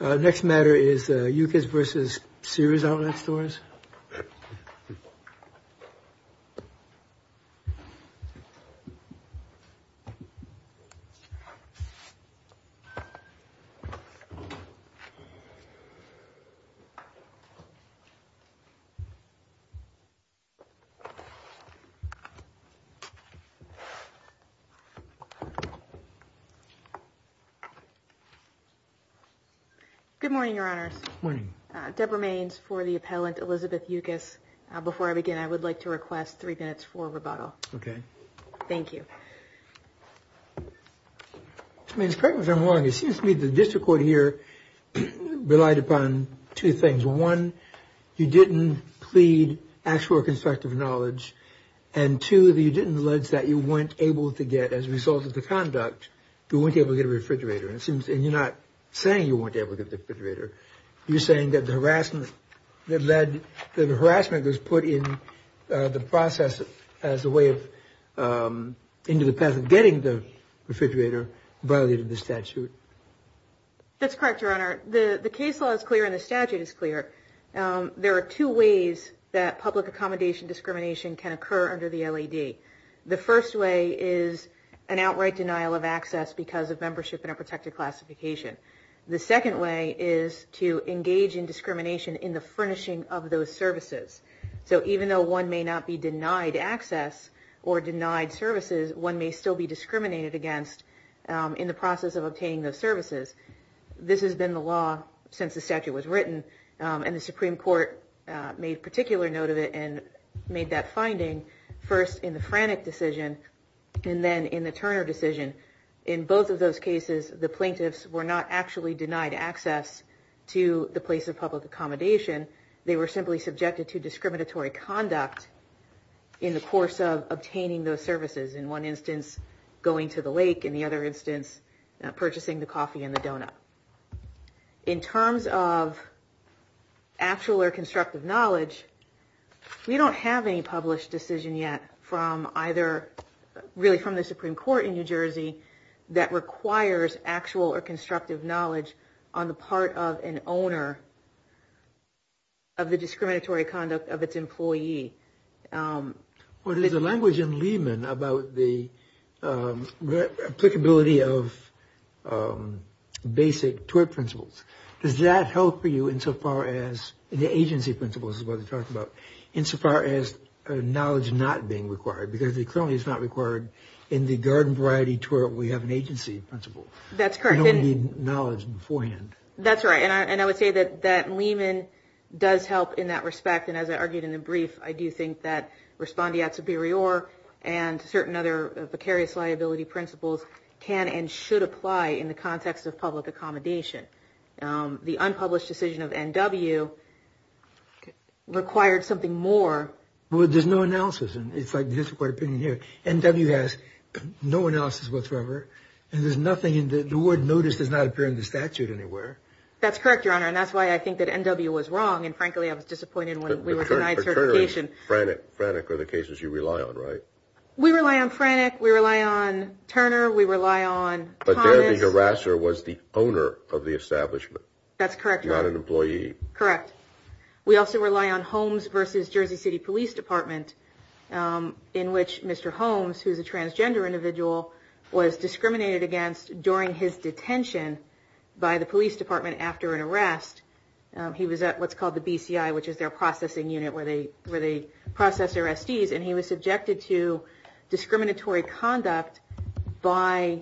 Next matter is Yucis v. Sears Outlet Stores. Good morning, Your Honors. Good morning. Deborah Maines for the appellant Elizabeth Yucis. Before I begin, I would like to request three minutes for rebuttal. Okay. Thank you. Ms. Maines, correct me if I'm wrong. It seems to me the district court here relied upon two things. One, you didn't plead actual or constructive knowledge. And two, you didn't allege that you weren't able to get, as a result of the conduct, you weren't able to get a refrigerator. And you're not saying you weren't able to get a refrigerator. You're saying that the harassment that was put in the process as a way of getting the refrigerator violated the statute. That's correct, Your Honor. The case law is clear and the statute is clear. There are two ways that public accommodation discrimination can occur under the LAD. The first way is an outright denial of access because of membership in a protected classification. The second way is to engage in discrimination in the furnishing of those services. So even though one may not be denied access or denied services, one may still be discriminated against in the process of obtaining those services. This has been the law since the statute was written. And the Supreme Court made particular note of it and made that finding first in the Frannick decision and then in the Turner decision. In both of those cases, the plaintiffs were not actually denied access to the place of public accommodation. They were simply subjected to discriminatory conduct in the course of obtaining those services. In one instance, going to the lake. In terms of actual or constructive knowledge, we don't have any published decision yet from either really from the Supreme Court in New Jersey that requires actual or constructive knowledge on the part of an owner of the discriminatory conduct of its employee. Well, there's a language in Lehman about the applicability of basic twerp principles. Does that help for you insofar as the agency principles, insofar as knowledge not being required? Because it clearly is not required in the garden variety twerp. We have an agency principle. That's correct. We don't need knowledge beforehand. That's right. And I would say that Lehman does help in that respect. And as I argued in the brief, I do think that respondeat superior and certain other precarious liability principles can and should apply in the context of public accommodation. The unpublished decision of NW required something more. Well, there's no analysis. And it's like this opinion here. NW has no analysis whatsoever. And there's nothing in the word. Notice does not appear in the statute anywhere. That's correct, Your Honor. And that's why I think that NW was wrong. And, frankly, I was disappointed when we were denied certification. But Turner and Franek are the cases you rely on, right? We rely on Franek. We rely on Turner. We rely on Thomas. But their big harasser was the owner of the establishment. That's correct, Your Honor. Not an employee. Correct. We also rely on Holmes versus Jersey City Police Department, in which Mr. Holmes, who is a transgender individual, was discriminated against during his detention by the police department after an arrest. He was at what's called the BCI, which is their processing unit where they process their SDs. And he was subjected to discriminatory conduct by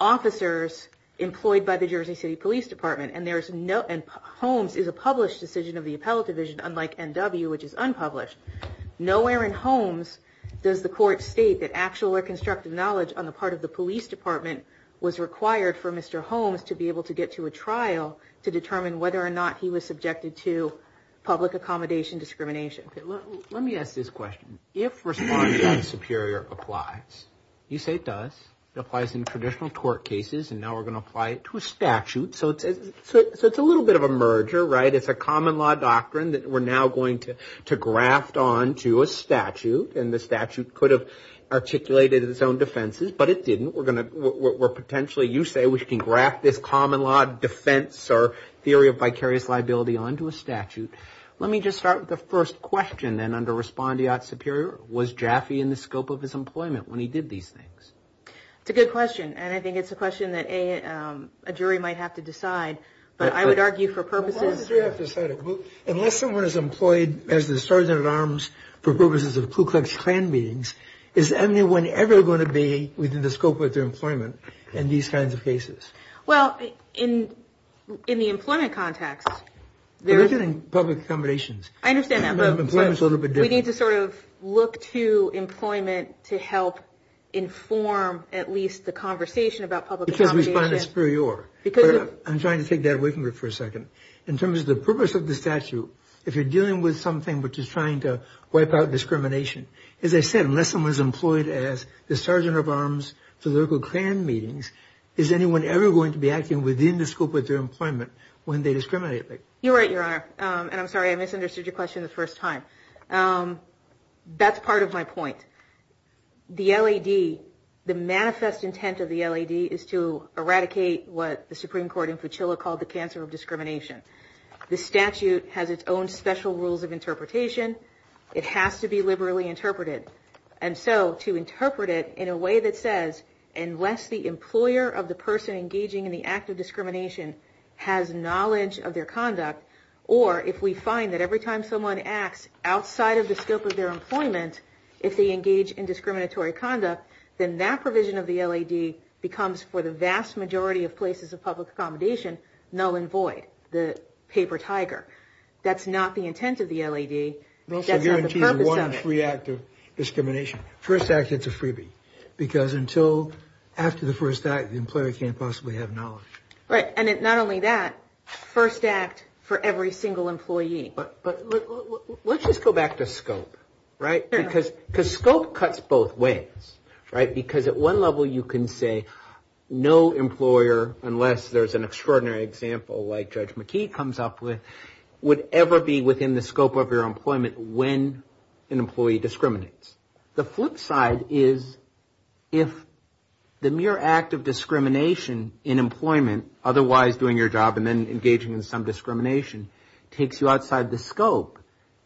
officers employed by the Jersey City Police Department. And Holmes is a published decision of the appellate division, unlike NW, which is unpublished. Nowhere in Holmes does the court state that actual or constructive knowledge on the part of the police department was required for Mr. Holmes to be able to get to a trial to determine whether or not he was subjected to public accommodation discrimination. Let me ask this question. If response of the superior applies, you say it does, it applies in traditional court cases, and now we're going to apply it to a statute. So it's a little bit of a merger, right? It's a common law doctrine that we're now going to graft onto a statute. And the statute could have articulated its own defenses, but it didn't. We're potentially, you say, we can graft this common law defense or theory of vicarious liability onto a statute. Let me just start with the first question, then, under respondeat superior. Was Jaffe in the scope of his employment when he did these things? That's a good question, and I think it's a question that a jury might have to decide. But I would argue for purposes. Unless someone is employed as the sergeant at arms for purposes of Ku Klux Klan meetings, is anyone ever going to be within the scope of their employment in these kinds of cases? Well, in the employment context, there is. We're looking at public accommodations. I understand that, but we need to sort of look to employment to help inform at least the conversation about public accommodations. Because respondeat superior. I'm trying to take that away from you for a second. In terms of the purpose of the statute, if you're dealing with something which is trying to wipe out discrimination, as I said, unless someone is employed as the sergeant of arms for Ku Klux Klan meetings, is anyone ever going to be acting within the scope of their employment when they discriminate? You're right, Your Honor. And I'm sorry, I misunderstood your question the first time. That's part of my point. The LAD, the manifest intent of the LAD is to eradicate what the Supreme Court in Fuchilla called the cancer of discrimination. The statute has its own special rules of interpretation. It has to be liberally interpreted. And so to interpret it in a way that says unless the employer of the person engaging in the act of discrimination has knowledge of their conduct, or if we find that every time someone acts outside of the scope of their employment, if they engage in discriminatory conduct, then that provision of the LAD becomes, for the vast majority of places of public accommodation, null and void, the paper tiger. That's not the intent of the LAD. It also guarantees one free act of discrimination. First act, it's a freebie. Because until after the first act, the employer can't possibly have knowledge. Right. And not only that, first act for every single employee. But let's just go back to scope, right? Because scope cuts both ways, right? Because at one level you can say no employer, unless there's an extraordinary example like Judge McKee comes up with, would ever be within the scope of your employment when an employee discriminates. The flip side is if the mere act of discrimination in employment, otherwise doing your job and then engaging in some discrimination, takes you outside the scope,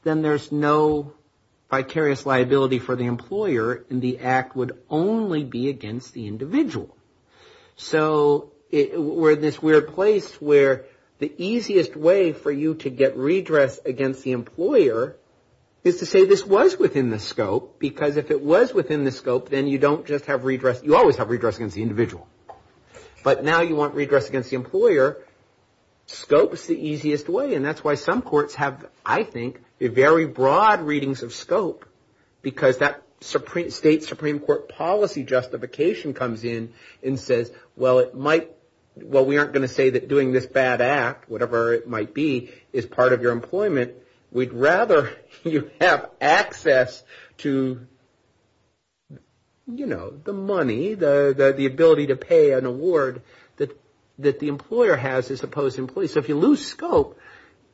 then there's no vicarious liability for the employer and the act would only be against the individual. So we're in this weird place where the easiest way for you to get redress against the employer is to say this was within the scope. Because if it was within the scope, then you don't just have redress. You always have redress against the individual. But now you want redress against the employer. Scope is the easiest way. And that's why some courts have, I think, very broad readings of scope. Because that state Supreme Court policy justification comes in and says, well, we aren't going to say that doing this bad act, whatever it might be, is part of your employment. We'd rather you have access to, you know, the money, the ability to pay an award that the employer has as opposed to employees. So if you lose scope,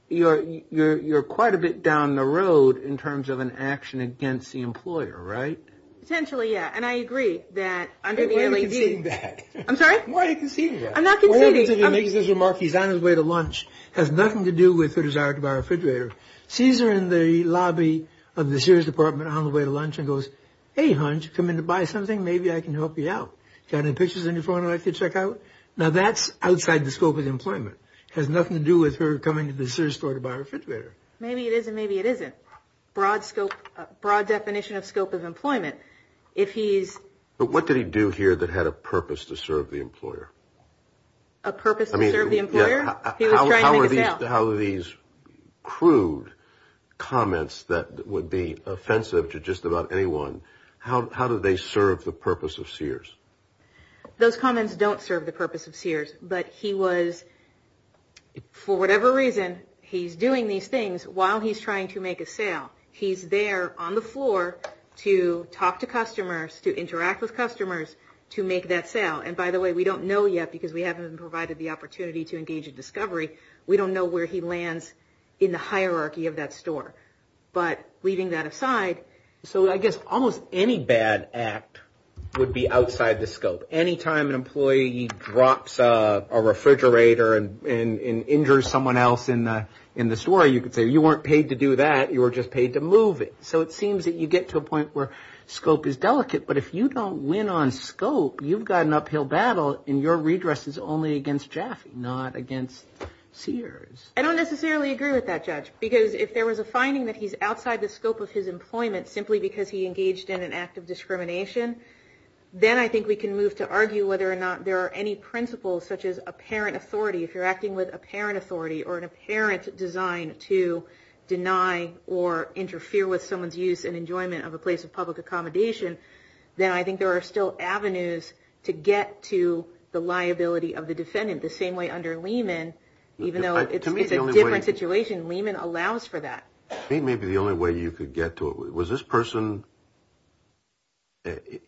you're quite a bit down the road in terms of an action against the employer, right? Potentially, yeah. And I agree that under the L.A.C.E. Why are you conceding that? I'm sorry? Why are you conceding that? I'm not conceding. He's on his way to lunch, has nothing to do with the desire to buy a refrigerator. Sees her in the lobby of the Sears department on the way to lunch and goes, hey, hunch, come in to buy something. Maybe I can help you out. Got any pictures in your phone I could check out? Now, that's outside the scope of employment. It has nothing to do with her coming to the Sears store to buy a refrigerator. Maybe it is and maybe it isn't. Broad scope, broad definition of scope of employment. But what did he do here that had a purpose to serve the employer? A purpose to serve the employer? He was trying to make a sale. How are these crude comments that would be offensive to just about anyone, how do they serve the purpose of Sears? Those comments don't serve the purpose of Sears. But he was, for whatever reason, he's doing these things while he's trying to make a sale. He's there on the floor to talk to customers, to interact with customers, to make that sale. And by the way, we don't know yet because we haven't been provided the opportunity to engage in discovery. We don't know where he lands in the hierarchy of that store. But leaving that aside. So I guess almost any bad act would be outside the scope. Any time an employee drops a refrigerator and injures someone else in the store, you could say you weren't paid to do that. You were just paid to move it. So it seems that you get to a point where scope is delicate. But if you don't win on scope, you've got an uphill battle and your redress is only against Jaffe, not against Sears. I don't necessarily agree with that, Judge. Because if there was a finding that he's outside the scope of his employment simply because he engaged in an act of discrimination, then I think we can move to argue whether or not there are any principles such as apparent authority. If you're acting with apparent authority or an apparent design to deny or interfere with someone's use and enjoyment of a place of public accommodation, then I think there are still avenues to get to the liability of the defendant. The same way under Lehman, even though it's a different situation, Lehman allows for that. Maybe the only way you could get to it. Was this person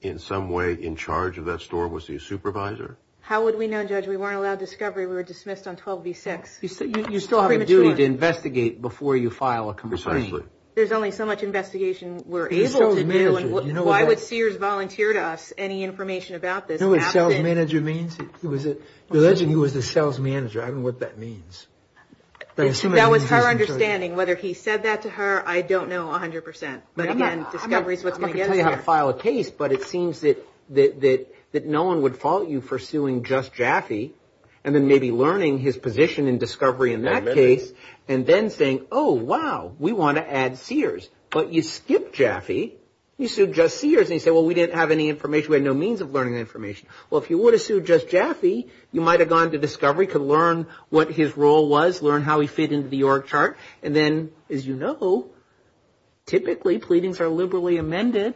in some way in charge of that store? Was he a supervisor? How would we know, Judge? We weren't allowed discovery. We were dismissed on 12V6. You still have a duty to investigate before you file a complaint. Precisely. There's only so much investigation we're able to do. Why would Sears volunteer to us any information about this? Do you know what sales manager means? The legend he was the sales manager. I don't know what that means. That was her understanding. Whether he said that to her, I don't know 100%. But again, discovery is what's going to get us there. I can tell you how to file a case, but it seems that no one would fault you for suing just Jaffe and then maybe learning his position in discovery in that case and then saying, oh, wow, we want to add Sears. But you skipped Jaffe. You sued just Sears. And you say, well, we didn't have any information. We had no means of learning information. Well, if you would have sued just Jaffe, you might have gone to discovery, could learn what his role was, learn how he fit into the org chart. And then, as you know, typically pleadings are liberally amended.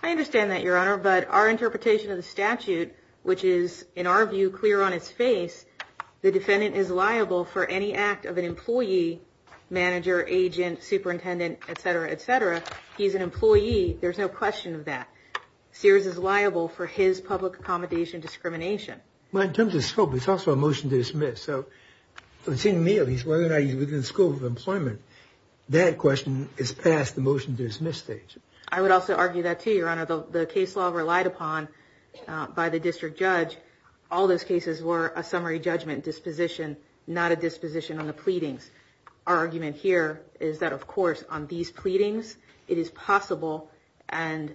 I understand that, Your Honor. But our interpretation of the statute, which is, in our view, clear on its face, the defendant is liable for any act of an employee, manager, agent, superintendent, et cetera, et cetera. He's an employee. There's no question of that. Sears is liable for his public accommodation discrimination. Well, in terms of scope, it's also a motion to dismiss. So from seeing me, at least, whether or not he's within the scope of employment, that question is past the motion to dismiss stage. I would also argue that, too, Your Honor. The case law relied upon by the district judge, all those cases were a summary judgment disposition, not a disposition on the pleadings. Our argument here is that, of course, on these pleadings, it is possible. And,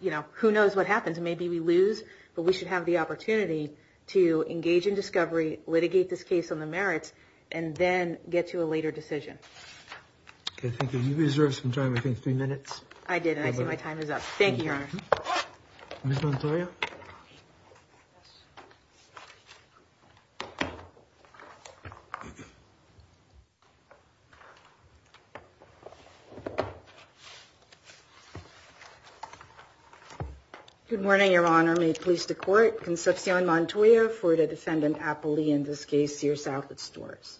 you know, who knows what happens? Maybe we lose, but we should have the opportunity to engage in discovery, litigate this case on the merits, and then get to a later decision. Okay, thank you. You reserved some time, I think, three minutes. I did, and I see my time is up. Thank you, Your Honor. Ms. Montoya? Good morning, Your Honor. May it please the Court. Concepcion Montoya for the defendant, Apolli, in this case, Sears-Alfred Storrs.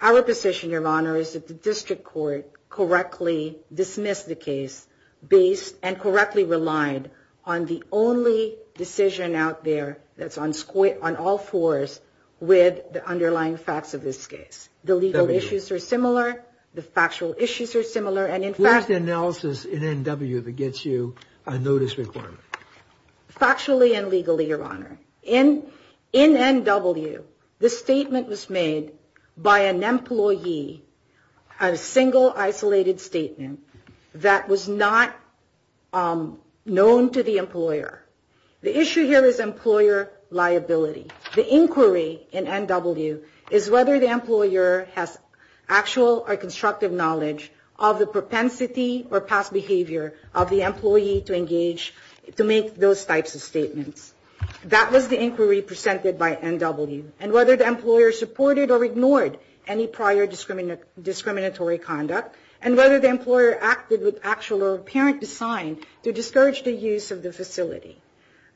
Our position, Your Honor, is that the district court correctly dismissed the case based and correctly relied on the only decision out there that's on all fours with the underlying facts of this case. The legal issues are similar, the factual issues are similar, and in fact... Where's the analysis in NW that gets you a notice requirement? Factually and legally, Your Honor. In NW, the statement was made by an employee, a single isolated statement, that was not known to the employer. The issue here is employer liability. The inquiry in NW is whether the employer has actual or constructive knowledge of the propensity or past behavior of the employee to engage, to make those types of statements. That was the inquiry presented by NW, and whether the employer supported or ignored any prior discriminatory conduct, and whether the employer acted with actual or apparent design to discourage the use of the facility.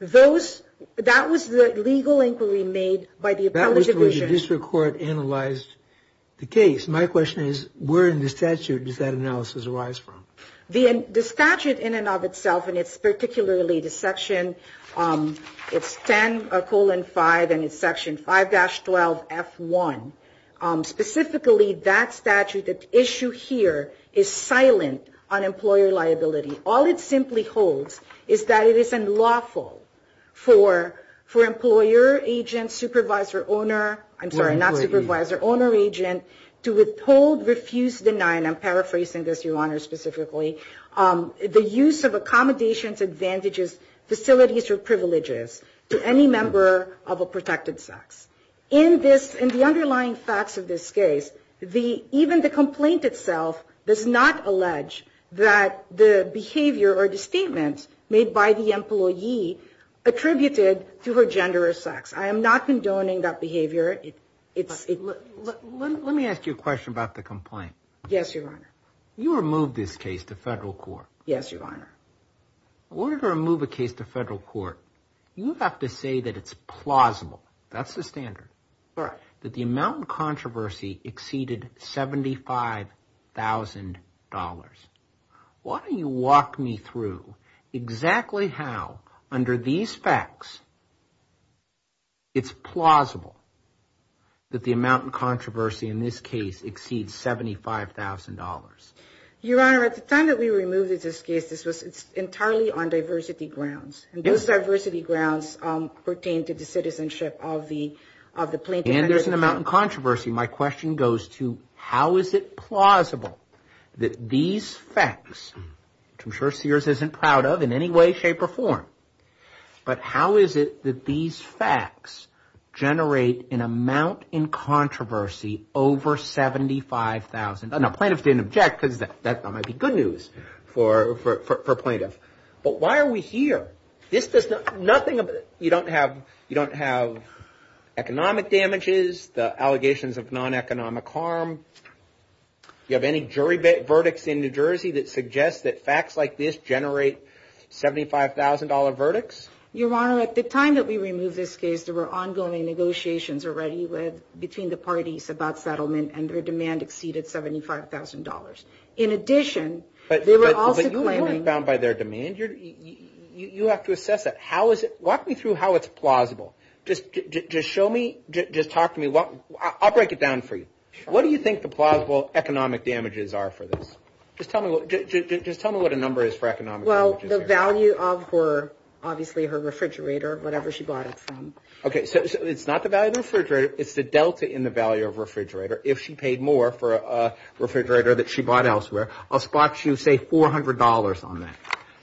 That was the legal inquiry made by the appellate division. That was the way the district court analyzed the case. My question is, where in the statute does that analysis arise from? The statute in and of itself, and it's particularly the section, it's 10 colon 5, and it's section 5-12 F1. Specifically, that statute, that issue here, is silent on employer liability. All it simply holds is that it is unlawful for employer agent, supervisor owner, I'm sorry, not supervisor, owner agent, to withhold, refuse, deny, and I'm paraphrasing this, Your Honor, specifically, the use of accommodations, advantages, facilities, or privileges to any member of a protected sex. In this, in the underlying facts of this case, even the complaint itself does not allege that the behavior or the statement made by the employee attributed to her gender or sex. I am not condoning that behavior. Let me ask you a question about the complaint. Yes, Your Honor. You removed this case to federal court. Yes, Your Honor. In order to remove a case to federal court, you have to say that it's plausible. That's the standard. Correct. That the amount of controversy exceeded $75,000. Why don't you walk me through exactly how, under these facts, it's plausible that the amount of controversy in this case exceeds $75,000? Your Honor, at the time that we removed this case, this was entirely on diversity grounds, and those diversity grounds pertain to the citizenship of the plaintiff. And there's an amount of controversy. My question goes to how is it plausible that these facts, which I'm sure Sears isn't proud of in any way, shape, or form, but how is it that these facts generate an amount in controversy over $75,000? Now, plaintiffs didn't object, because that might be good news for a plaintiff. But why are we here? This does nothing. You don't have economic damages, the allegations of non-economic harm. You have any jury verdicts in New Jersey that suggest that facts like this generate $75,000 verdicts? Your Honor, at the time that we removed this case, there were ongoing negotiations already between the parties about settlement, and their demand exceeded $75,000. In addition, they were also claiming... But you weren't bound by their demand. You have to assess that. Walk me through how it's plausible. Just show me, just talk to me. I'll break it down for you. What do you think the plausible economic damages are for this? Just tell me what a number is for economic damages. Well, the value of her, obviously, her refrigerator, whatever she bought it from. Okay, so it's not the value of the refrigerator. It's the delta in the value of refrigerator. If she paid more for a refrigerator that she bought elsewhere, I'll spot you, say, $400 on that.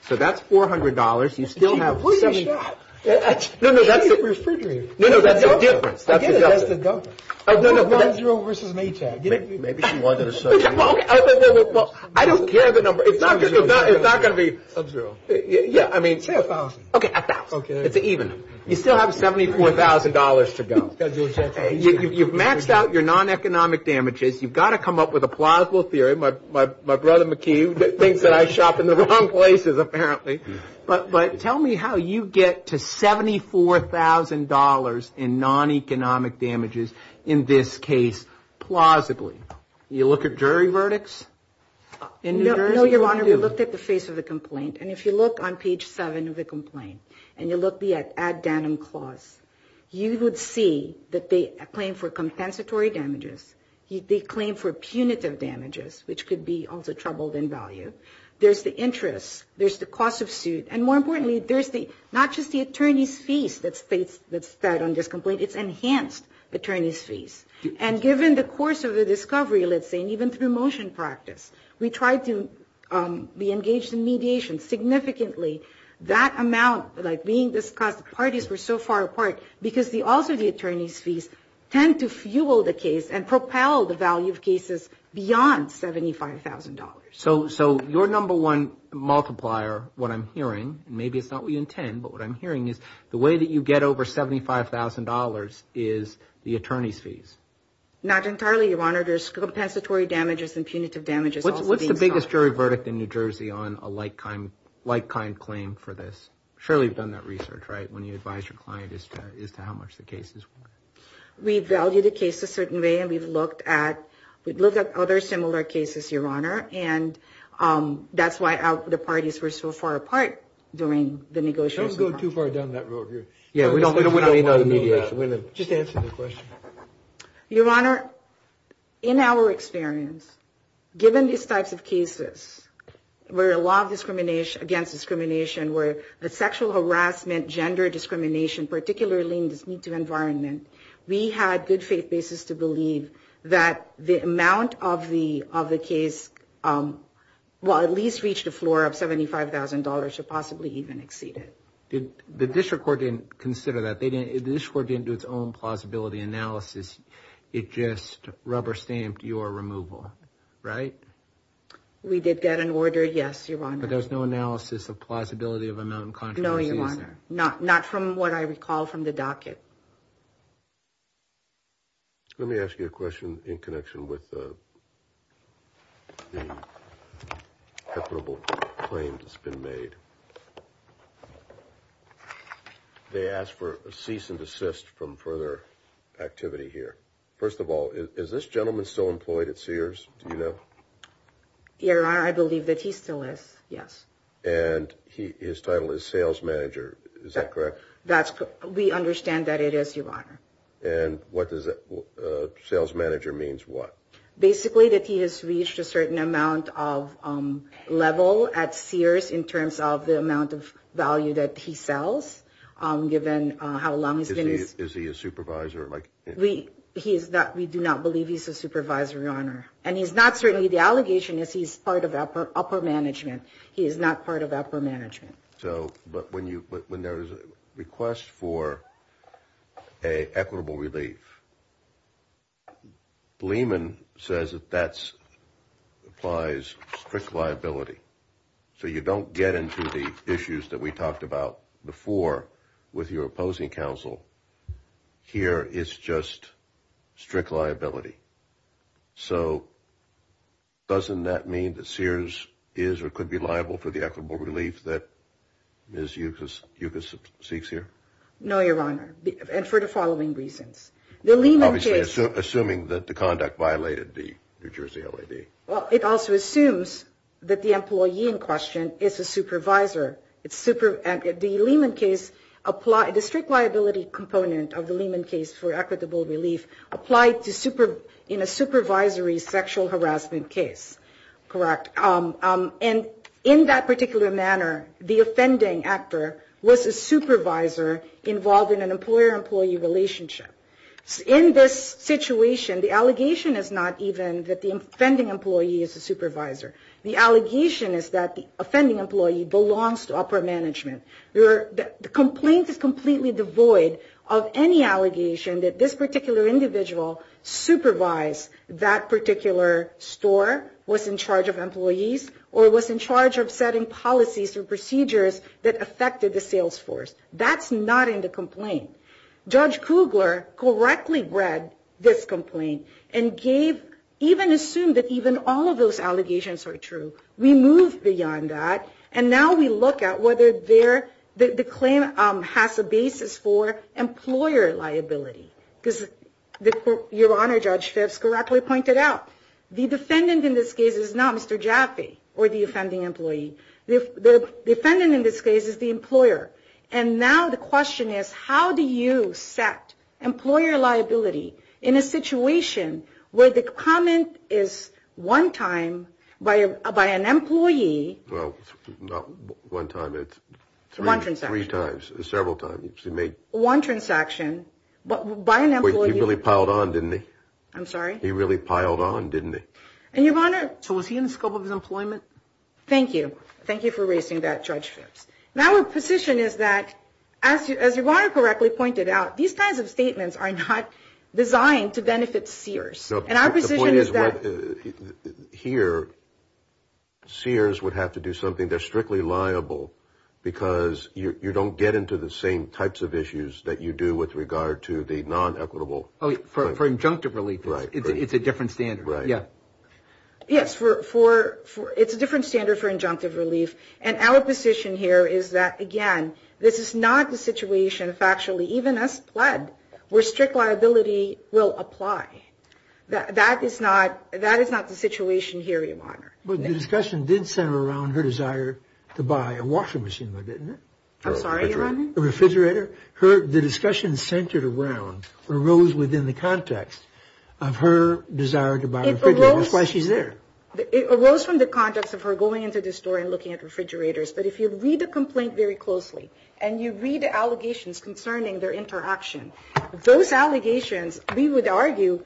So that's $400. You still have... What are you saying? No, no, that's the refrigerator. No, no, that's the difference. I get it, that's the delta. I wrote 1-0 versus Maytag. Well, I don't care the number. It's not going to be... Sub-zero. Yeah, I mean... Say $1,000. Okay, $1,000. It's even. You still have $74,000 to go. You've maxed out your non-economic damages. You've got to come up with a plausible theory. My brother, McKee, thinks that I shop in the wrong places, apparently. But tell me how you get to $74,000 in non-economic damages in this case, plausibly. You look at jury verdicts in New Jersey? No, Your Honor, we looked at the face of the complaint. And if you look on page 7 of the complaint, and you look at the add denim clause, you would see that they claim for compensatory damages. They claim for punitive damages, which could be also troubled in value. There's the interest. There's the cost of suit. And more importantly, there's not just the attorney's fees that's set on this complaint. It's enhanced attorney's fees. And given the course of the discovery, let's say, and even through motion practice, we tried to be engaged in mediation significantly. That amount, like being discussed, the parties were so far apart, because also the attorney's fees tend to fuel the case and propel the value of cases beyond $75,000. So your number one multiplier, what I'm hearing, and maybe it's not what you intend, but what I'm hearing is the way that you get over $75,000 is the attorney's fees. Not entirely, Your Honor. There's compensatory damages and punitive damages also being sought. What's the biggest jury verdict in New Jersey on a like-kind claim for this? Surely you've done that research, right, when you advise your client as to how much the case is worth. We value the case a certain way, and we've looked at other similar cases, Your Honor, and that's why the parties were so far apart during the negotiations. Don't go too far down that road here. Yeah, we don't want to mediate. Just answer the question. Your Honor, in our experience, given these types of cases where a lot of discrimination, against discrimination, where the sexual harassment, gender discrimination, particularly in this need-to-environment, we had good faith basis to believe that the amount of the case, well, at least reached a floor of $75,000, should possibly even exceed it. The district court didn't consider that. The district court didn't do its own plausibility analysis. It just rubber-stamped your removal, right? We did get an order, yes, Your Honor. But there's no analysis of plausibility of amount of controversy, is there? Not from what I recall from the docket. Let me ask you a question in connection with the equitable claims that's been made. They asked for a cease and desist from further activity here. First of all, is this gentleman still employed at Sears? Do you know? Your Honor, I believe that he still is, yes. And his title is sales manager, is that correct? We understand that it is, Your Honor. And what does a sales manager mean? Basically that he has reached a certain amount of level at Sears in terms of the amount of value that he sells, given how long he's been. Is he a supervisor? We do not believe he's a supervisor, Your Honor. And he's not, certainly the allegation is he's part of upper management. He is not part of upper management. But when there is a request for an equitable relief, Lehman says that that applies strict liability. So you don't get into the issues that we talked about before with your opposing counsel. Here it's just strict liability. So doesn't that mean that Sears is or could be liable for the equitable relief that Ms. Yucas seeks here? No, Your Honor, and for the following reasons. Obviously assuming that the conduct violated the New Jersey LAD. Well, it also assumes that the employee in question is a supervisor. The Lehman case, the strict liability component of the Lehman case for equitable relief applied in a supervisory sexual harassment case, correct? And in that particular manner, the offending actor was a supervisor involved in an employer-employee relationship. In this situation, the allegation is not even that the offending employee is a supervisor. The allegation is that the offending employee belongs to upper management. The complaint is completely devoid of any allegation that this particular individual supervised that particular store, was in charge of employees, or was in charge of setting policies or procedures that affected the sales force. That's not in the complaint. Judge Kugler correctly read this complaint and gave even assumed that even all of those allegations are true. We move beyond that, and now we look at whether the claim has a basis for employer liability. Your Honor, Judge Phipps correctly pointed out, the defendant in this case is not Mr. Jaffe or the offending employee. The defendant in this case is the employer. And now the question is, how do you set employer liability in a situation where the comment is one time by an employee. Well, not one time, it's three times, several times. One transaction, but by an employee. He really piled on, didn't he? I'm sorry? He really piled on, didn't he? And Your Honor. So was he in the scope of his employment? Thank you. Thank you for raising that, Judge Phipps. Now our position is that, as Your Honor correctly pointed out, these kinds of statements are not designed to benefit seers. And our position is that. The point is that here, seers would have to do something that's strictly liable because you don't get into the same types of issues that you do with regard to the non-equitable. For injunctive relief, it's a different standard. Right. Yes, it's a different standard for injunctive relief. And our position here is that, again, this is not the situation, factually, even as pled, where strict liability will apply. That is not the situation here, Your Honor. But the discussion did center around her desire to buy a washing machine, though, didn't it? I'm sorry, Your Honor? A refrigerator. The discussion centered around, arose within the context of her desire to buy a refrigerator. That's why she's there. It arose from the context of her going into the store and looking at refrigerators. But if you read the complaint very closely and you read the allegations concerning their interaction, those allegations, we would argue,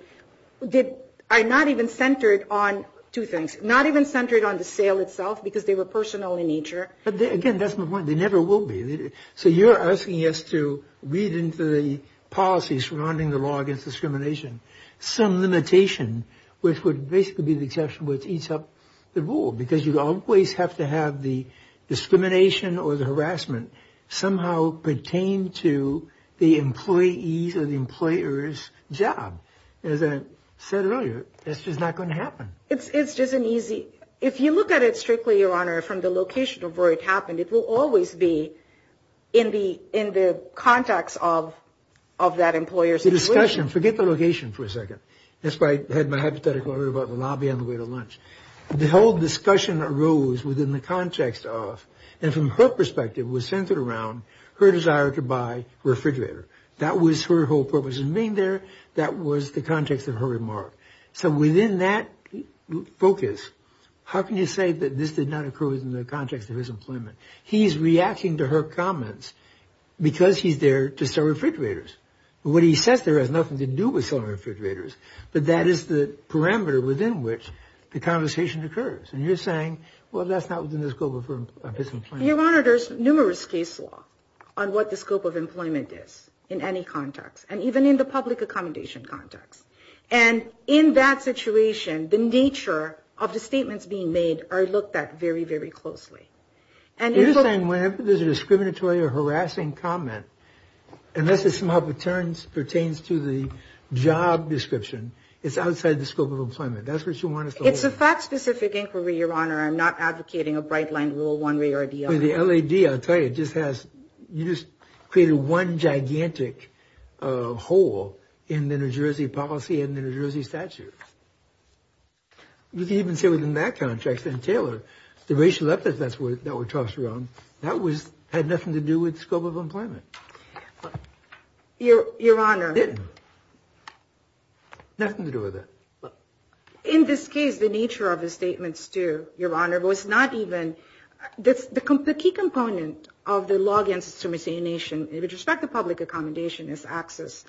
are not even centered on two things. Not even centered on the sale itself because they were personal in nature. But, again, that's my point. They never will be. So you're asking us to read into the policies surrounding the law against discrimination some limitation which would basically be the exception which eats up the rule because you always have to have the discrimination or the harassment somehow pertain to the employees or the employer's job. As I said earlier, that's just not going to happen. It's just an easy, if you look at it strictly, Your Honor, from the location of where it happened, it will always be in the context of that employer's situation. The discussion, forget the location for a second. That's why I had my hypothetical about the lobby on the way to lunch. The whole discussion arose within the context of, and from her perspective, was centered around her desire to buy a refrigerator. That was her whole purpose in being there. That was the context of her remark. So within that focus, how can you say that this did not occur in the context of his employment? He's reacting to her comments because he's there to sell refrigerators. What he says there has nothing to do with selling refrigerators, but that is the parameter within which the conversation occurs. And you're saying, well, that's not within the scope of his employment. Your Honor, there's numerous case law on what the scope of employment is in any context, and even in the public accommodation context. And in that situation, the nature of the statements being made are looked at very, very closely. You're saying whenever there's a discriminatory or harassing comment, unless it somehow pertains to the job description, it's outside the scope of employment. That's what you want us to hold. It's a fact-specific inquiry, Your Honor. I'm not advocating a bright-line rule one way or the other. The LAD, I'll tell you, you just created one gigantic hole in the New Jersey policy and the New Jersey statute. You can even say within that contract, Senator Taylor, the racial epithets that were tossed around, that had nothing to do with the scope of employment. Your Honor. It didn't. Nothing to do with it. In this case, the nature of the statements, too, Your Honor, was not even – the key component of the law against discrimination with respect to public accommodation is access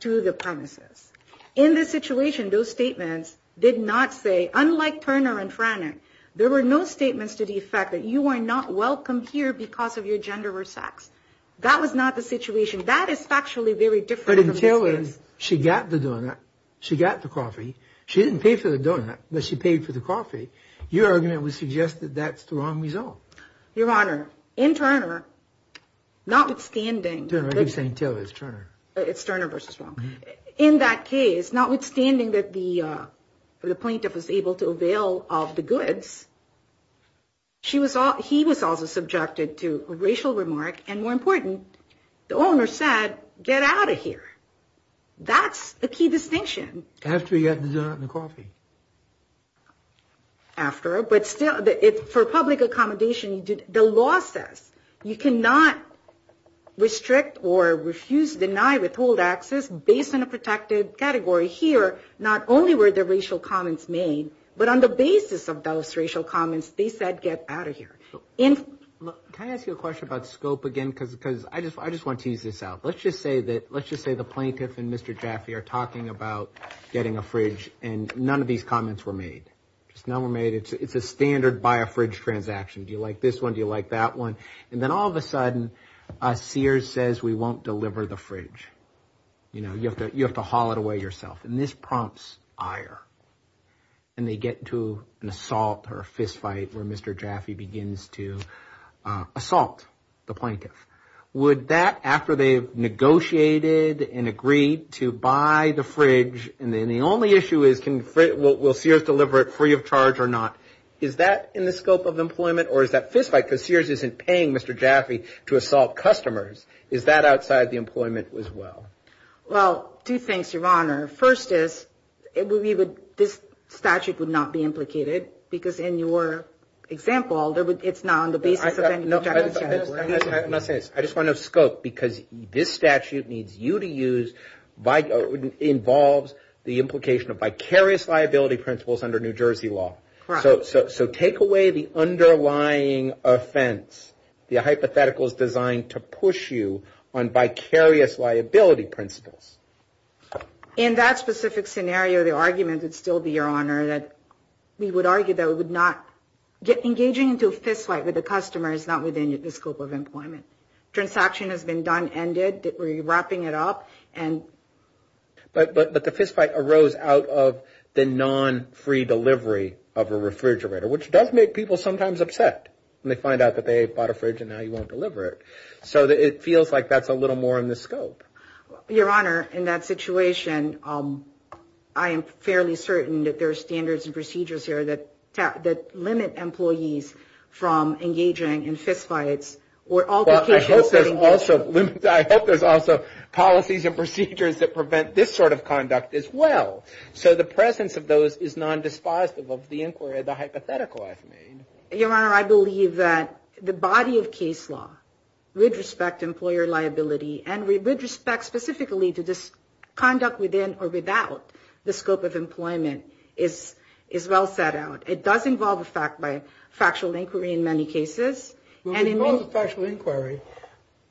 to the premises. In this situation, those statements did not say, unlike Turner and Frannick, there were no statements to the effect that you are not welcome here because of your gender or sex. That was not the situation. That is factually very different from this case. But in Taylor's, she got the donut, she got the coffee. She didn't pay for the donut, but she paid for the coffee. Your argument would suggest that that's the wrong result. Your Honor, in Turner, notwithstanding – Turner, I keep saying Taylor, it's Turner. It's Turner versus Frannick. In that case, notwithstanding that the plaintiff was able to avail of the goods, he was also subjected to a racial remark. And more important, the owner said, get out of here. That's the key distinction. After he got the donut and the coffee. After. But still, for public accommodation, the law says, you cannot restrict or refuse, deny, withhold access based on a protected category. Here, not only were the racial comments made, but on the basis of those racial comments, they said, get out of here. Can I ask you a question about scope again? Because I just want to tease this out. Let's just say the plaintiff and Mr. Jaffee are talking about getting a fridge, and none of these comments were made. Just none were made. It's a standard buy a fridge transaction. Do you like this one? Do you like that one? And then all of a sudden, Sears says, we won't deliver the fridge. You know, you have to haul it away yourself. And this prompts ire. And they get into an assault or a fist fight where Mr. Jaffee begins to assault the plaintiff. Would that, after they've negotiated and agreed to buy the fridge, and then the only issue is, will Sears deliver it free of charge or not? Is that in the scope of employment? Or is that fist fight because Sears isn't paying Mr. Jaffee to assault customers? Is that outside the employment as well? Well, two things, Your Honor. First is, this statute would not be implicated because in your example, it's not on the basis of any objection. I'm not saying this. I just want to know scope because this statute needs you to use, involves the implication of vicarious liability principles under New Jersey law. Correct. So take away the underlying offense. The hypothetical is designed to push you on vicarious liability principles. In that specific scenario, the argument would still be, Your Honor, that we would argue that we would not get engaging into a fist fight with a customer is not within the scope of employment. Transaction has been done, ended. We're wrapping it up. But the fist fight arose out of the non-free delivery of a refrigerator, which does make people sometimes upset when they find out that they bought a fridge and now you won't deliver it. So it feels like that's a little more in the scope. Your Honor, in that situation, I am fairly certain that there are standards and procedures here that limit employees from engaging in fist fights or altercations. I hope there's also policies and procedures that prevent this sort of conduct as well. So the presence of those is non-dispositive of the inquiry, the hypothetical I've made. Your Honor, I believe that the body of case law would respect employer liability and would respect specifically to this conduct within or without the scope of employment is well set out. It does involve a factual inquiry in many cases. Well, if it involves a factual inquiry,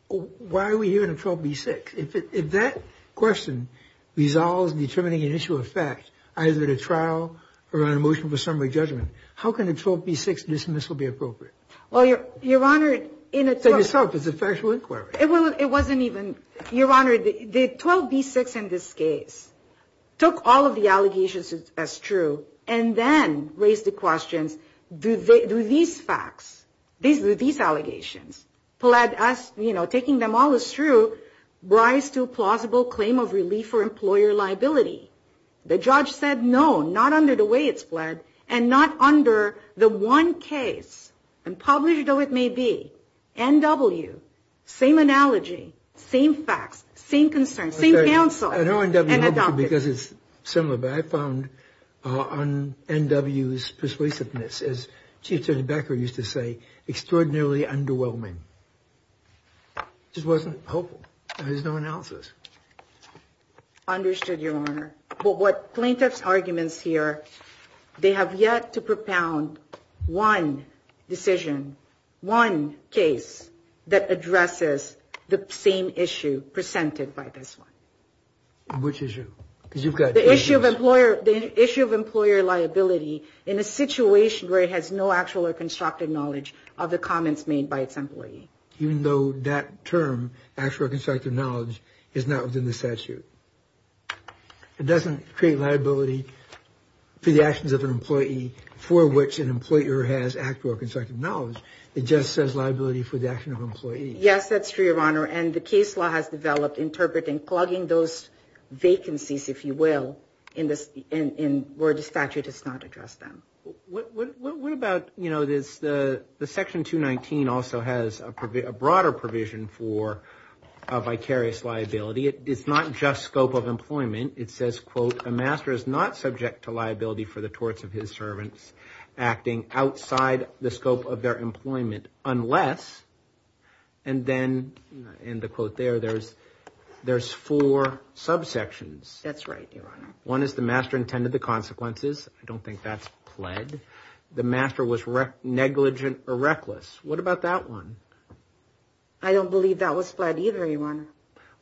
why are we hearing a 12B6? If that question resolves determining an issue of fact, either at a trial or on a motion for summary judgment, how can a 12B6 dismissal be appropriate? Well, Your Honor, in a 12... Say yourself, it's a factual inquiry. It wasn't even... Your Honor, the 12B6 in this case took all of the allegations as true and then raised the questions, do these facts, do these allegations, taking them all as true, rise to a plausible claim of relief or employer liability? The judge said no, not under the way it's fled, and not under the one case, and published though it may be, NW. Same analogy, same facts, same concerns, same counsel. I know NW because it's similar, but I found NW's persuasiveness, as Chief Judge Becker used to say, extraordinarily underwhelming. It just wasn't helpful. There's no analysis. Understood, Your Honor. But what plaintiff's arguments here, they have yet to propound one decision, one case that addresses the same issue presented by this one. Which issue? Because you've got... The issue of employer liability in a situation where it has no actual or constructive knowledge of the comments made by its employee. Even though that term, actual or constructive knowledge, is not within the statute. It doesn't create liability for the actions of an employee for which an employer has actual or constructive knowledge. It just says liability for the action of an employee. Yes, that's true, Your Honor. And the case law has developed interpreting, plugging those vacancies, if you will, where the statute has not addressed them. What about, you know, the Section 219 also has a broader provision for a vicarious liability. It's not just scope of employment. It says, quote, the master is not subject to liability for the torts of his servants acting outside the scope of their employment, unless, and then in the quote there, there's four subsections. That's right, Your Honor. One is the master intended the consequences. I don't think that's pled. The master was negligent or reckless. What about that one? I don't believe that was pled either, Your Honor.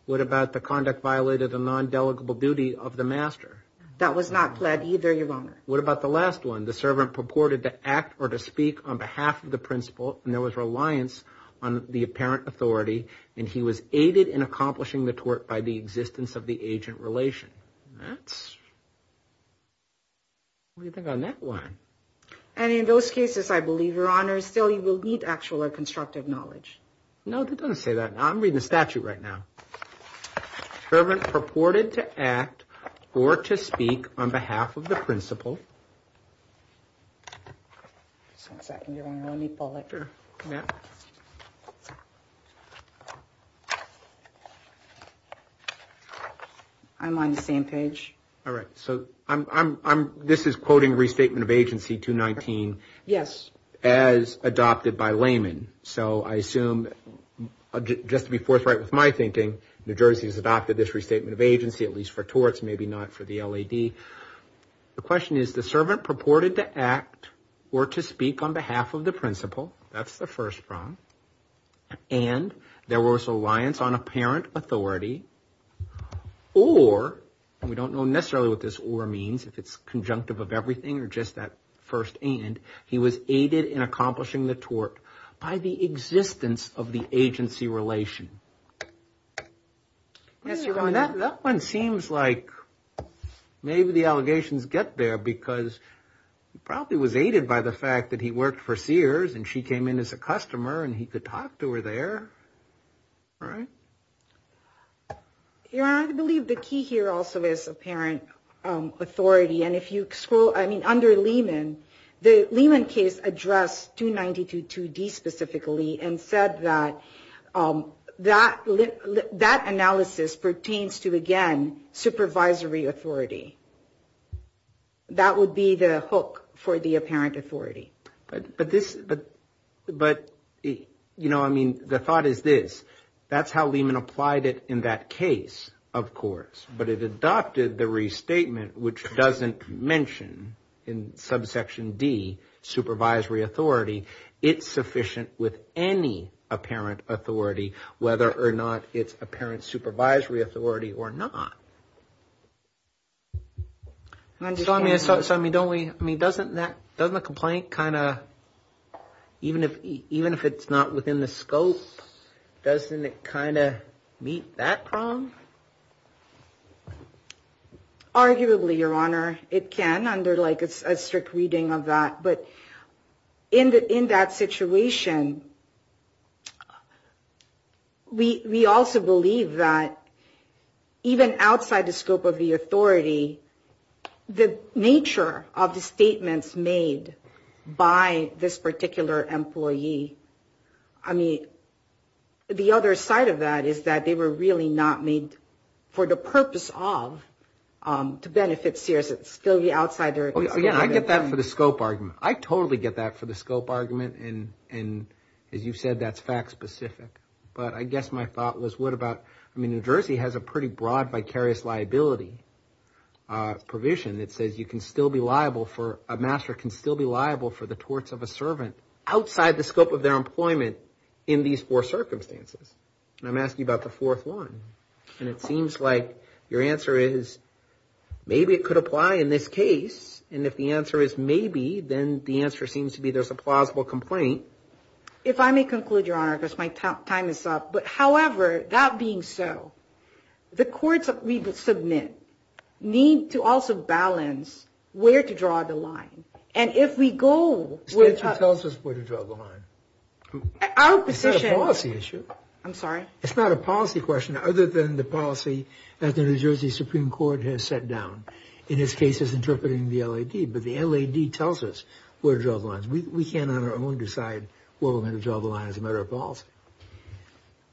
What about the conduct violated the non-delegable duty of the master? That was not pled either, Your Honor. What about the last one? The servant purported to act or to speak on behalf of the principal and there was reliance on the apparent authority and he was aided in accomplishing the tort by the existence of the agent relation. That's, what do you think on that one? And in those cases, I believe, Your Honor, still you will need actual or constructive knowledge. No, it doesn't say that. I'm reading the statute right now. Servant purported to act or to speak on behalf of the principal. Just one second, Your Honor. Let me pull it. Sure. I'm on the same page. All right. So this is quoting Restatement of Agency 219. Yes. As adopted by layman. So I assume, just to be forthright with my thinking, New Jersey has adopted this Restatement of Agency, at least for torts, maybe not for the LAD. The question is, the servant purported to act or to speak on behalf of the principal, that's the first prong, and there was reliance on apparent authority or, and we don't know necessarily what this or means, if it's conjunctive of everything or just that first and, he was aided in accomplishing the tort by the existence of the agency relation. Yes, Your Honor. That one seems like maybe the allegations get there because he probably was aided by the fact that he worked for Sears and she came in as a customer and he could talk to her there. Right? Your Honor, I believe the key here also is apparent authority and if you scroll, I mean, under layman, the Lehman case addressed 292.2d specifically and said that that analysis pertains to, again, supervisory authority. That would be the hook for the apparent authority. But this, but, you know, I mean, the thought is this, that's how Lehman applied it in that case, of course, but it adopted the Restatement, which doesn't mention in subsection D, supervisory authority. It's sufficient with any apparent authority, whether or not it's apparent supervisory authority or not. So, I mean, don't we, I mean, doesn't that, doesn't the complaint kind of, even if it's not within the scope, doesn't it kind of meet that problem? Arguably, Your Honor, it can under, like, a strict reading of that, but in that situation, we also believe that even outside the scope of the authority, the nature of the statements made by this particular employee, I mean, the other side of that is that they were really not made for the purpose of, to benefit Sears. It's still the outsider. Again, I get that for the scope argument. I totally get that for the scope argument, and as you said, that's fact specific. But I guess my thought was what about, I mean, New Jersey has a pretty broad vicarious liability provision that says you can still be liable for, a master can still be liable for the torts of a servant outside the scope of their employment in these four circumstances. And I'm asking you about the fourth one. And it seems like your answer is maybe it could apply in this case, and if the answer is maybe, then the answer seems to be there's a plausible complaint. If I may conclude, Your Honor, because my time is up, but however, that being so, the courts that we submit need to also balance where to draw the line. And if we go with. Tell us where to draw the line. Our position. It's a policy issue. I'm sorry. It's not a policy question other than the policy that the New Jersey Supreme Court has set down. In this case, it's interpreting the LAD. But the LAD tells us where to draw the line. We can't on our own decide where we're going to draw the line as a matter of policy.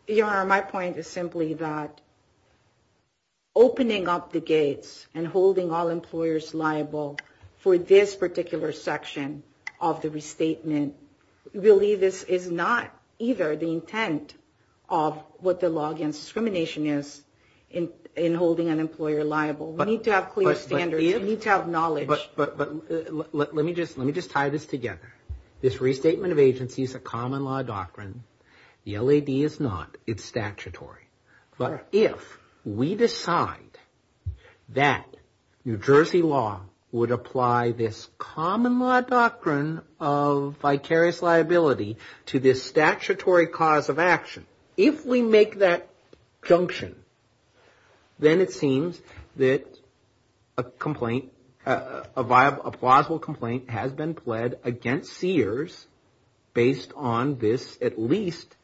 Your Honor, my point is simply that opening up the gates and holding all employers liable for this particular section of the restatement, really this is not either the intent of what the law against discrimination is in holding an employer liable. We need to have clear standards. We need to have knowledge. But let me just tie this together. This restatement of agency is a common law doctrine. The LAD is not. It's statutory. But if we decide that New Jersey law would apply this common law doctrine of vicarious liability to this statutory cause of action, if we make that junction, then it seems that a plausible complaint has been pled against Sears based on this, at least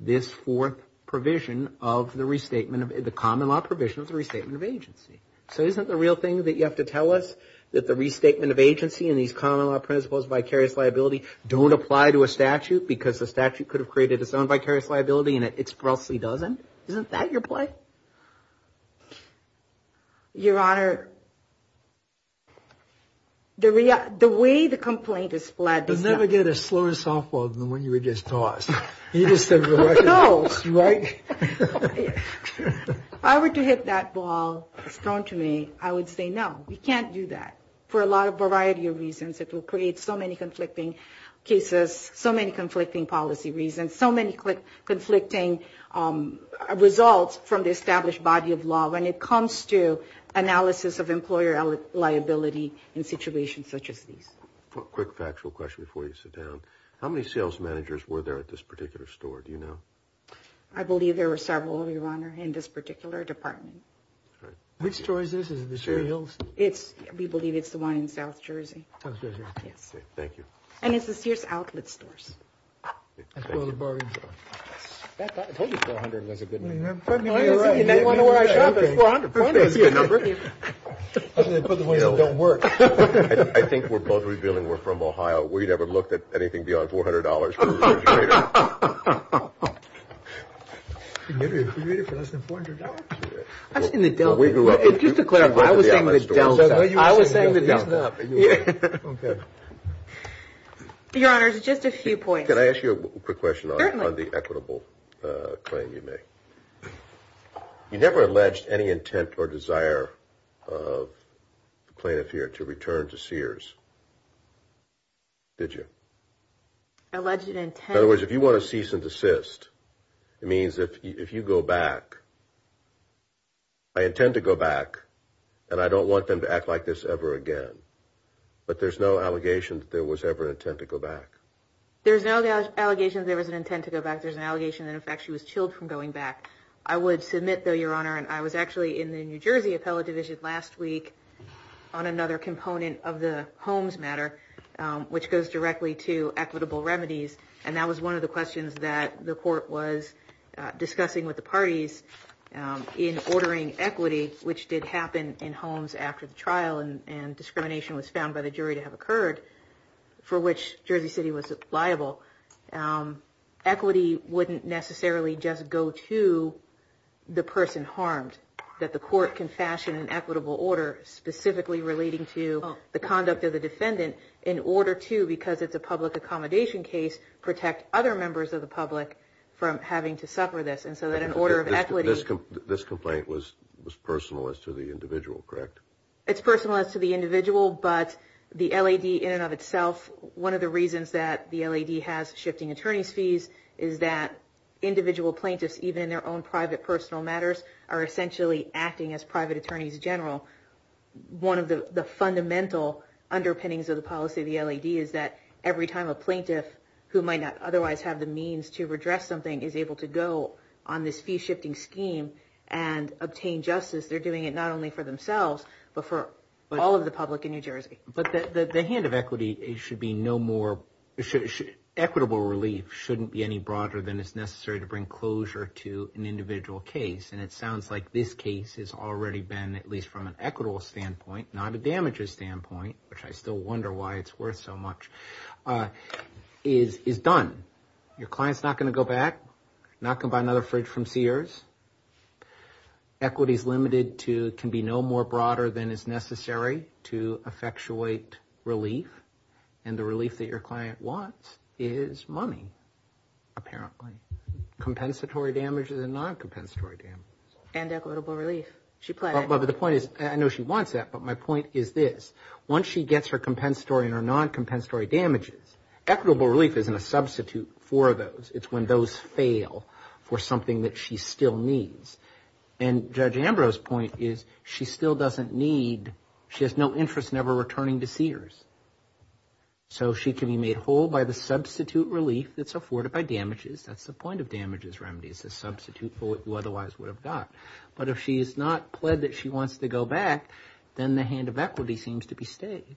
this fourth provision of the common law provision of the restatement of agency. So isn't the real thing that you have to tell us that the restatement of agency won't apply to a statute because the statute could have created its own vicarious liability and it expressly doesn't? Isn't that your play? Your Honor, the way the complaint is pled is not. You'll never get a slower softball than the one you were just tossed. You just said the Russian Bulls, right? If I were to hit that ball thrown to me, I would say no. We can't do that for a variety of reasons. It will create so many conflicting cases, so many conflicting policy reasons, so many conflicting results from the established body of law when it comes to analysis of employer liability in situations such as these. Quick factual question before you sit down. How many sales managers were there at this particular store? Do you know? I believe there were several, Your Honor, in this particular department. Which store is this? Is this Sears? We believe it's the one in South Jersey. Thank you. And it's the Sears outlet stores. That's where all the bargains are. I told you $400 was a good number. $400 is a good number. They put the ones that don't work. I think we're both revealing we're from Ohio. We never looked at anything beyond $400 for a refrigerator. A refrigerator for less than $400? I've seen the Delta. Just to clarify, I was saying the Delta. Your Honor, just a few points. Can I ask you a quick question on the equitable claim you make? You never alleged any intent or desire of the plaintiff here to return to Sears, did you? Alleged intent. In other words, if you want to cease and desist, it means if you go back, I intend to go back, and I don't want them to act like this ever again. But there's no allegation that there was ever an intent to go back. There's no allegation there was an intent to go back. There's an allegation that, in fact, she was chilled from going back. I would submit, though, Your Honor, and I was actually in the New Jersey appellate division last week on another component of the Holmes matter, which goes directly to equitable remedies, and that was one of the questions that the court was discussing with the parties in ordering equity, which did happen in Holmes after the trial and discrimination was found by the jury to have occurred, for which Jersey City was liable. Equity wouldn't necessarily just go to the person harmed, that the court can fashion an equitable order specifically relating to the conduct of the defendant in order to, because it's a public accommodation case, protect other members of the public from having to suffer this, and so that an order of equity. This complaint was personal as to the individual, correct? It's personal as to the individual, but the LAD in and of itself, one of the reasons that the LAD has shifting attorney's fees is that individual plaintiffs, even in their own private personal matters, are essentially acting as private attorneys general. One of the fundamental underpinnings of the policy of the LAD is that every time a plaintiff who might not otherwise have the means to redress something is able to go on this fee-shifting scheme and obtain justice, they're doing it not only for themselves, but for all of the public in New Jersey. But the hand of equity should be no more, equitable relief shouldn't be any broader than is necessary to bring closure to an individual case, and it sounds like this case has already been, at least from an equitable standpoint, not a damages standpoint, which I still wonder why it's worth so much, is done. Your client's not going to go back, not going to buy another fridge from Sears. Equity is limited to, can be no more broader than is necessary to effectuate relief, and the relief that your client wants is money, apparently. Compensatory damages and non-compensatory damages. And equitable relief. But the point is, I know she wants that, but my point is this. Once she gets her compensatory and her non-compensatory damages, equitable relief isn't a substitute for those. It's when those fail for something that she still needs. And Judge Ambrose's point is she still doesn't need, she has no interest in ever returning to Sears. So she can be made whole by the substitute relief that's afforded by damages. That's the point of damages remedies, the substitute for what you otherwise would have got. But if she's not pled that she wants to go back, then the hand of equity seems to be stayed.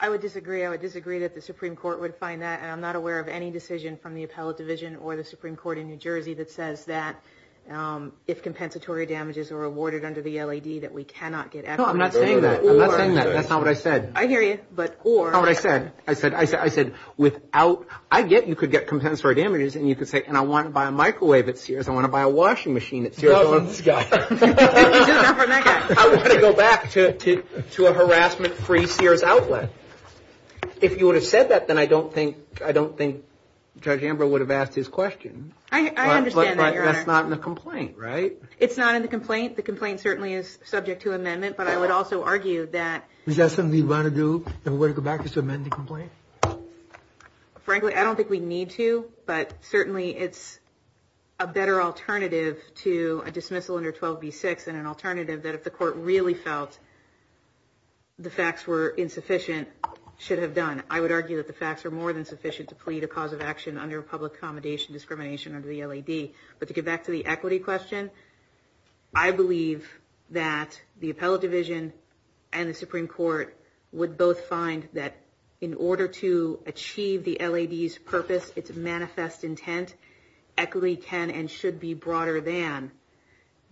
I would disagree. I would disagree that the Supreme Court would find that, and I'm not aware of any decision from the Appellate Division or the Supreme Court in New Jersey that says that if compensatory damages are awarded under the LAD that we cannot get equity. No, I'm not saying that. I'm not saying that. That's not what I said. I hear you, but or. That's not what I said. I said without, I get you could get compensatory damages and you could say, and I want to buy a microwave at Sears. I want to buy a washing machine at Sears. I want to go back to a harassment-free Sears outlet. If you would have said that, then I don't think Judge Ambrose would have asked his question. I understand that, Your Honor. But that's not in the complaint, right? It's not in the complaint. It's not in the complaint. The complaint certainly is subject to amendment, but I would also argue that. Is that something you'd want to do if we were to go back to amend the complaint? Frankly, I don't think we need to, but certainly it's a better alternative to a dismissal under 12b-6 and an alternative that if the court really felt the facts were insufficient, should have done. I would argue that the facts are more than sufficient to plead a cause of action under a public accommodation discrimination under the LAD. But to get back to the equity question, I believe that the appellate division and the Supreme Court would both find that in order to achieve the LAD's purpose, its manifest intent, equity can and should be broader than,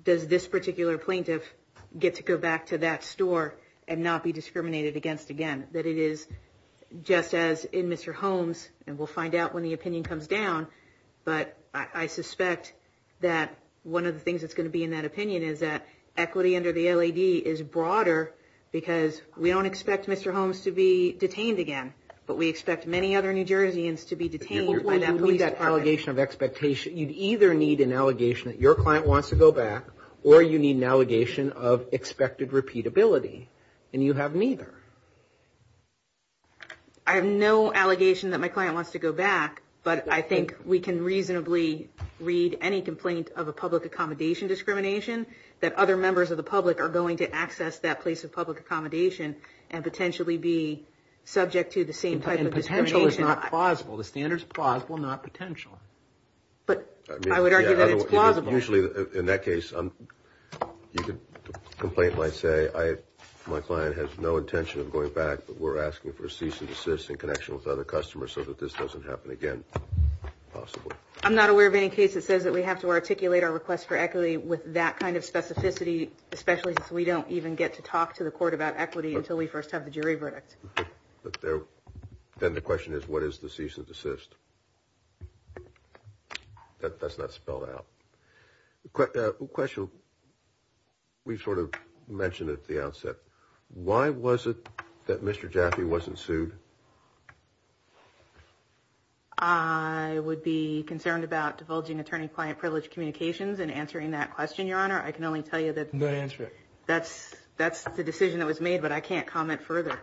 does this particular plaintiff get to go back to that store and not be discriminated against again? That it is just as in Mr. Holmes, and we'll find out when the opinion comes down, but I suspect that one of the things that's going to be in that opinion is that equity under the LAD is broader because we don't expect Mr. Holmes to be detained again, but we expect many other New Jerseyans to be detained by that police department. You'd either need an allegation that your client wants to go back or you need an allegation of expected repeatability, and you have neither. I have no allegation that my client wants to go back, but I think we can reasonably read any complaint of a public accommodation discrimination that other members of the public are going to access that place of public accommodation and potentially be subject to the same type of discrimination. And potential is not plausible. The standard is plausible, not potential. But I would argue that it's plausible. Usually in that case, the complaint might say, my client has no intention of going back, but we're asking for a cease and desist in connection with other customers so that this doesn't happen again, possibly. I'm not aware of any case that says that we have to articulate our request for equity with that kind of specificity, especially since we don't even get to talk to the court about equity until we first have the jury verdict. Then the question is, what is the cease and desist? That's not spelled out. A question we sort of mentioned at the outset. Why was it that Mr. Jaffe wasn't sued? I would be concerned about divulging attorney-client privilege communications and answering that question, Your Honor. I can only tell you that that's the decision that was made, but I can't comment further.